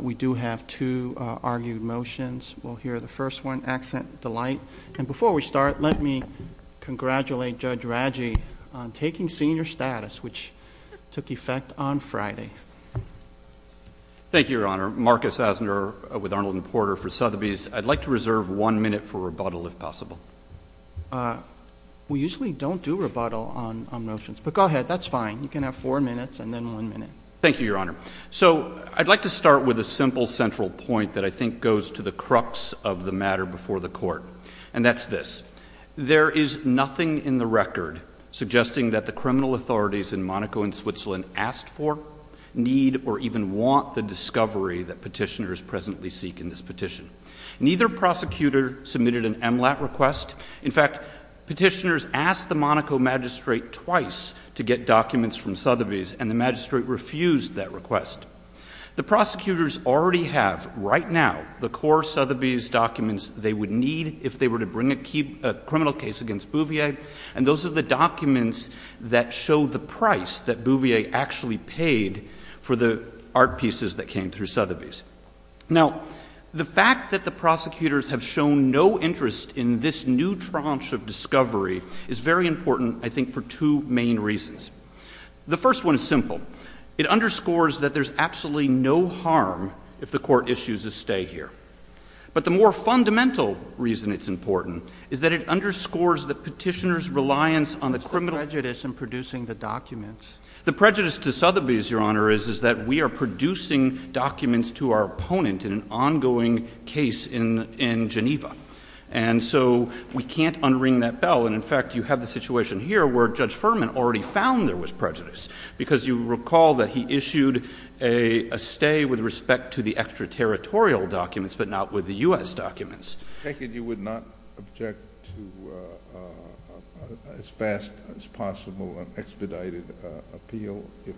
We do have two argued motions. We'll hear the first one, Accent Delight. And before we start, let me congratulate Judge Raggi on taking senior status, which took effect on Friday. Thank you, Your Honor. Marcus Asner with Arnold and Porter for Sotheby's. I'd like to reserve one minute for rebuttal, if possible. We usually don't do rebuttal on motions, but go ahead. That's fine. You can have four minutes and then one minute. Thank you, Your Honor. So, I'd like to start with a simple central point that I think goes to the crux of the matter before the Court. And that's this. There is nothing in the record suggesting that the criminal authorities in Monaco and Switzerland asked for, need, or even want the discovery that petitioners presently seek in this petition. Neither prosecutor submitted an MLAT request. In fact, petitioners asked the Monaco magistrate twice to get documents from Sotheby's, and the magistrate refused that request. The prosecutors already have, right now, the core Sotheby's documents they would need if they were to bring a criminal case against Bouvier. And those are the documents that show the price that Bouvier actually paid for the art pieces that came through Sotheby's. Now, the fact that the prosecutors have shown no interest in this new tranche of discovery is very important, I think, for two main reasons. The first one is simple. It underscores that there's absolutely no harm if the Court issues a stay here. But the more fundamental reason it's important is that it underscores the petitioner's reliance on the criminal— It's the prejudice in producing the documents. The prejudice to Sotheby's, Your Honor, is that we are producing documents to our opponent in an ongoing case in Geneva. And so we can't unring that bell. And, in fact, you have the situation here where Judge Furman already found there was prejudice, because you recall that he issued a stay with respect to the extraterritorial documents, but not with the U.S. documents. I take it you would not object to as fast as possible an expedited appeal if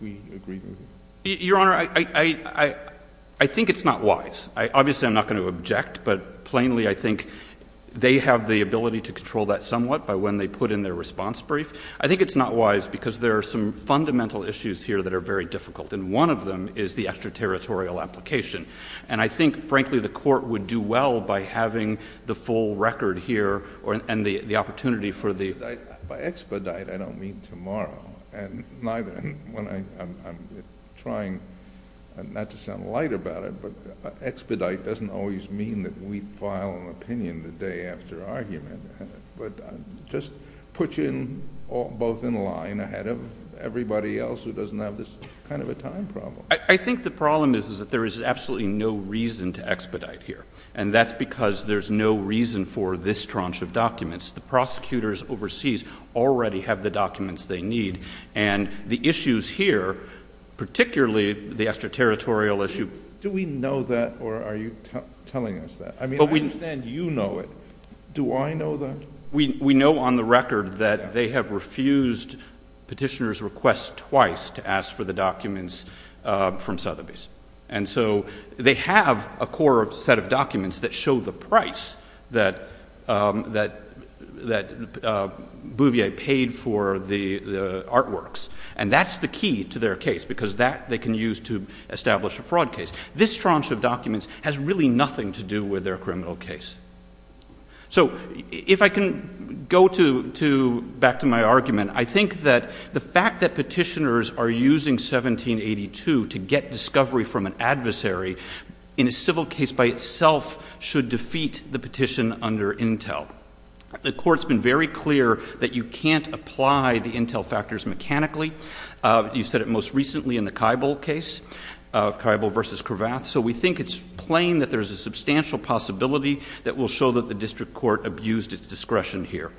we agreed with it? Your Honor, I think it's not wise. Obviously, I'm not going to object, but plainly I think they have the ability to control that somewhat by when they put in their response brief. I think it's not wise because there are some fundamental issues here that are very difficult, and one of them is the extraterritorial application. And I think, frankly, the Court would do well by having the full record here and the opportunity for the— Expedite doesn't always mean that we file an opinion the day after argument, but just put you both in line ahead of everybody else who doesn't have this kind of a time problem. I think the problem is that there is absolutely no reason to expedite here, and that's because there's no reason for this tranche of documents. The prosecutors overseas already have the documents they need, and the issues here, particularly the extraterritorial issue— Do we know that, or are you telling us that? I mean, I understand you know it. Do I know that? We know on the record that they have refused Petitioner's request twice to ask for the documents from Sotheby's. And so they have a core set of documents that show the price that Bouvier paid for the artworks, and that's the key to their case, because that they can use to establish a fraud case. This tranche of documents has really nothing to do with their criminal case. So if I can go back to my argument, I think that the fact that petitioners are using 1782 to get discovery from an adversary in a civil case by itself should defeat the petition under Intel. The court's been very clear that you can't apply the Intel factors mechanically. You said it most recently in the Kybal case, Kybal v. Kravath. So we think it's plain that there's a substantial possibility that will show that the district court abused its discretion here.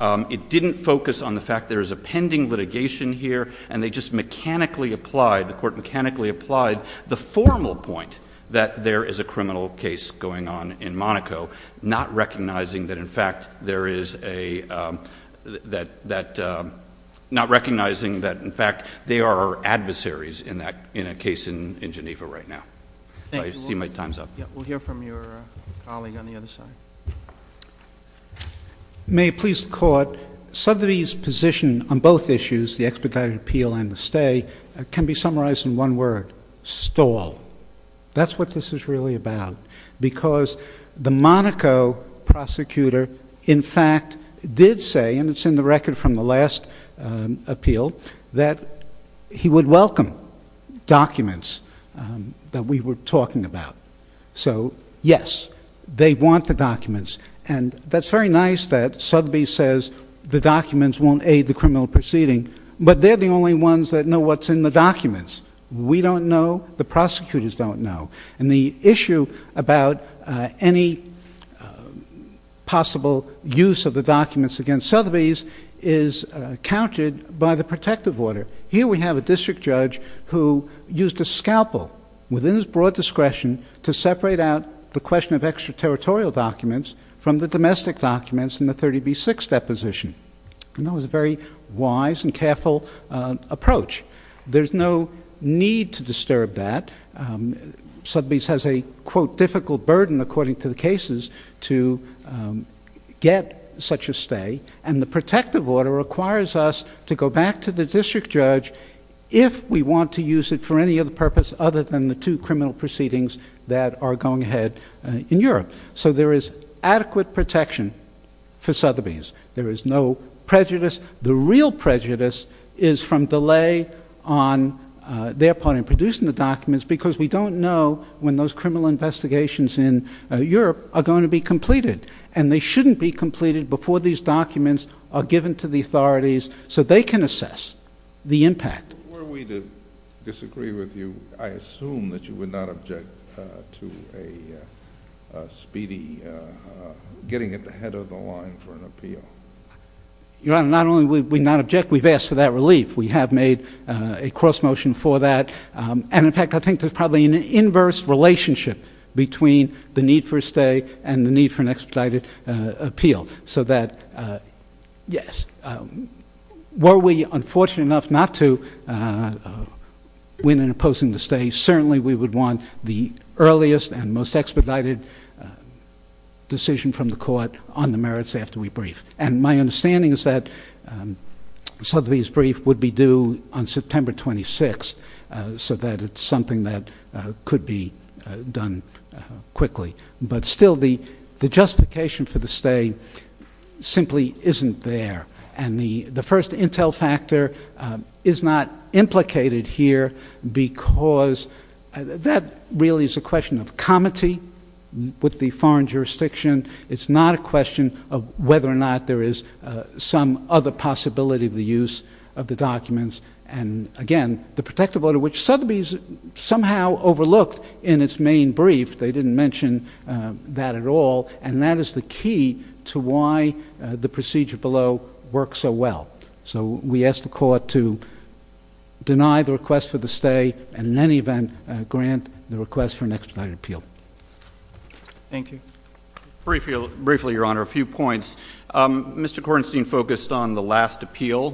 It didn't focus on the fact there is a pending litigation here, and they just mechanically applied, the court mechanically applied, the formal point that there is a criminal case going on in Monaco, not recognizing that, in fact, there is a, that, that, not recognizing that, in fact, they are adversaries in that, in a case in Geneva right now. I see my time's up. We'll hear from your colleague on the other side. May it please the court, Sotheby's position on both issues, the expedited appeal and the stay, can be summarized in one word, stall. That's what this is really about. Because the Monaco prosecutor, in fact, did say, and it's in the record from the last appeal, that he would welcome documents that we were talking about. So, yes, they want the documents. And that's very nice that Sotheby's says the documents won't aid the criminal proceeding. But they're the only ones that know what's in the documents. We don't know. The prosecutors don't know. And the issue about any possible use of the documents against Sotheby's is countered by the protective order. Here we have a district judge who used a scalpel, within his broad discretion, to separate out the question of extraterritorial documents from the domestic documents in the 30B6 deposition. And that was a very wise and careful approach. There's no need to disturb that. Sotheby's has a, quote, difficult burden, according to the cases, to get such a stay. And the protective order requires us to go back to the district judge if we want to use it for any other purpose other than the two criminal proceedings that are going ahead in Europe. So there is adequate protection for Sotheby's. There is no prejudice. The real prejudice is from delay on their part in producing the documents, because we don't know when those criminal investigations in Europe are going to be completed. And they shouldn't be completed before these documents are given to the authorities so they can assess the impact. Were we to disagree with you, I assume that you would not object to a speedy getting at the head of the line for an appeal. Your Honor, not only would we not object, we've asked for that relief. We have made a cross motion for that. And, in fact, I think there's probably an inverse relationship between the need for a stay and the need for an expedited appeal. So that, yes, were we unfortunate enough not to win in opposing the stay, certainly we would want the earliest and most expedited decision from the court on the merits after we brief. And my understanding is that Sotheby's brief would be due on September 26th, so that it's something that could be done quickly. But still the justification for the stay simply isn't there. And the first intel factor is not implicated here because that really is a question of comity with the foreign jurisdiction. It's not a question of whether or not there is some other possibility of the use of the documents. And, again, the protective order which Sotheby's somehow overlooked in its main brief, they didn't mention that at all, and that is the key to why the procedure below works so well. So we ask the court to deny the request for the stay and in any event grant the request for an expedited appeal. Thank you. Briefly, Your Honor, a few points. Mr. Kornstein focused on the last appeal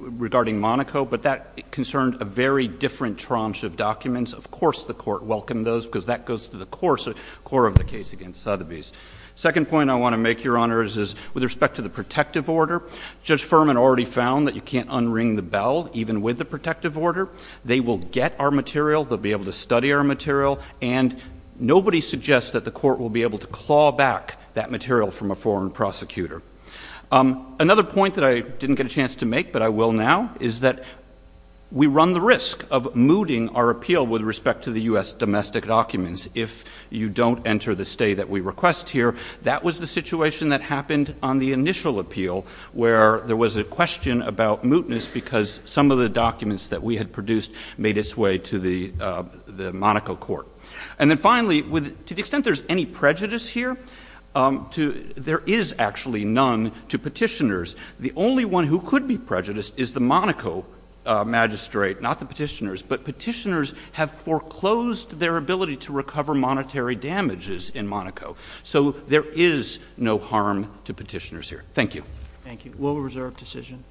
regarding Monaco, but that concerned a very different tranche of documents. Of course the court welcomed those because that goes to the core of the case against Sotheby's. Second point I want to make, Your Honor, is with respect to the protective order, Judge Furman already found that you can't unring the bell even with the protective order. They will get our material, they'll be able to study our material, and nobody suggests that the court will be able to claw back that material from a foreign prosecutor. Another point that I didn't get a chance to make, but I will now, is that we run the risk of mooting our appeal with respect to the U.S. domestic documents if you don't enter the stay that we request here. That was the situation that happened on the initial appeal where there was a question about mootness because some of the documents that we had produced made its way to the Monaco court. And then finally, to the extent there's any prejudice here, there is actually none to petitioners. The only one who could be prejudiced is the Monaco magistrate, not the petitioners. But petitioners have foreclosed their ability to recover monetary damages in Monaco. So there is no harm to petitioners here. Thank you. Thank you. Thank you. We'll reserve decision.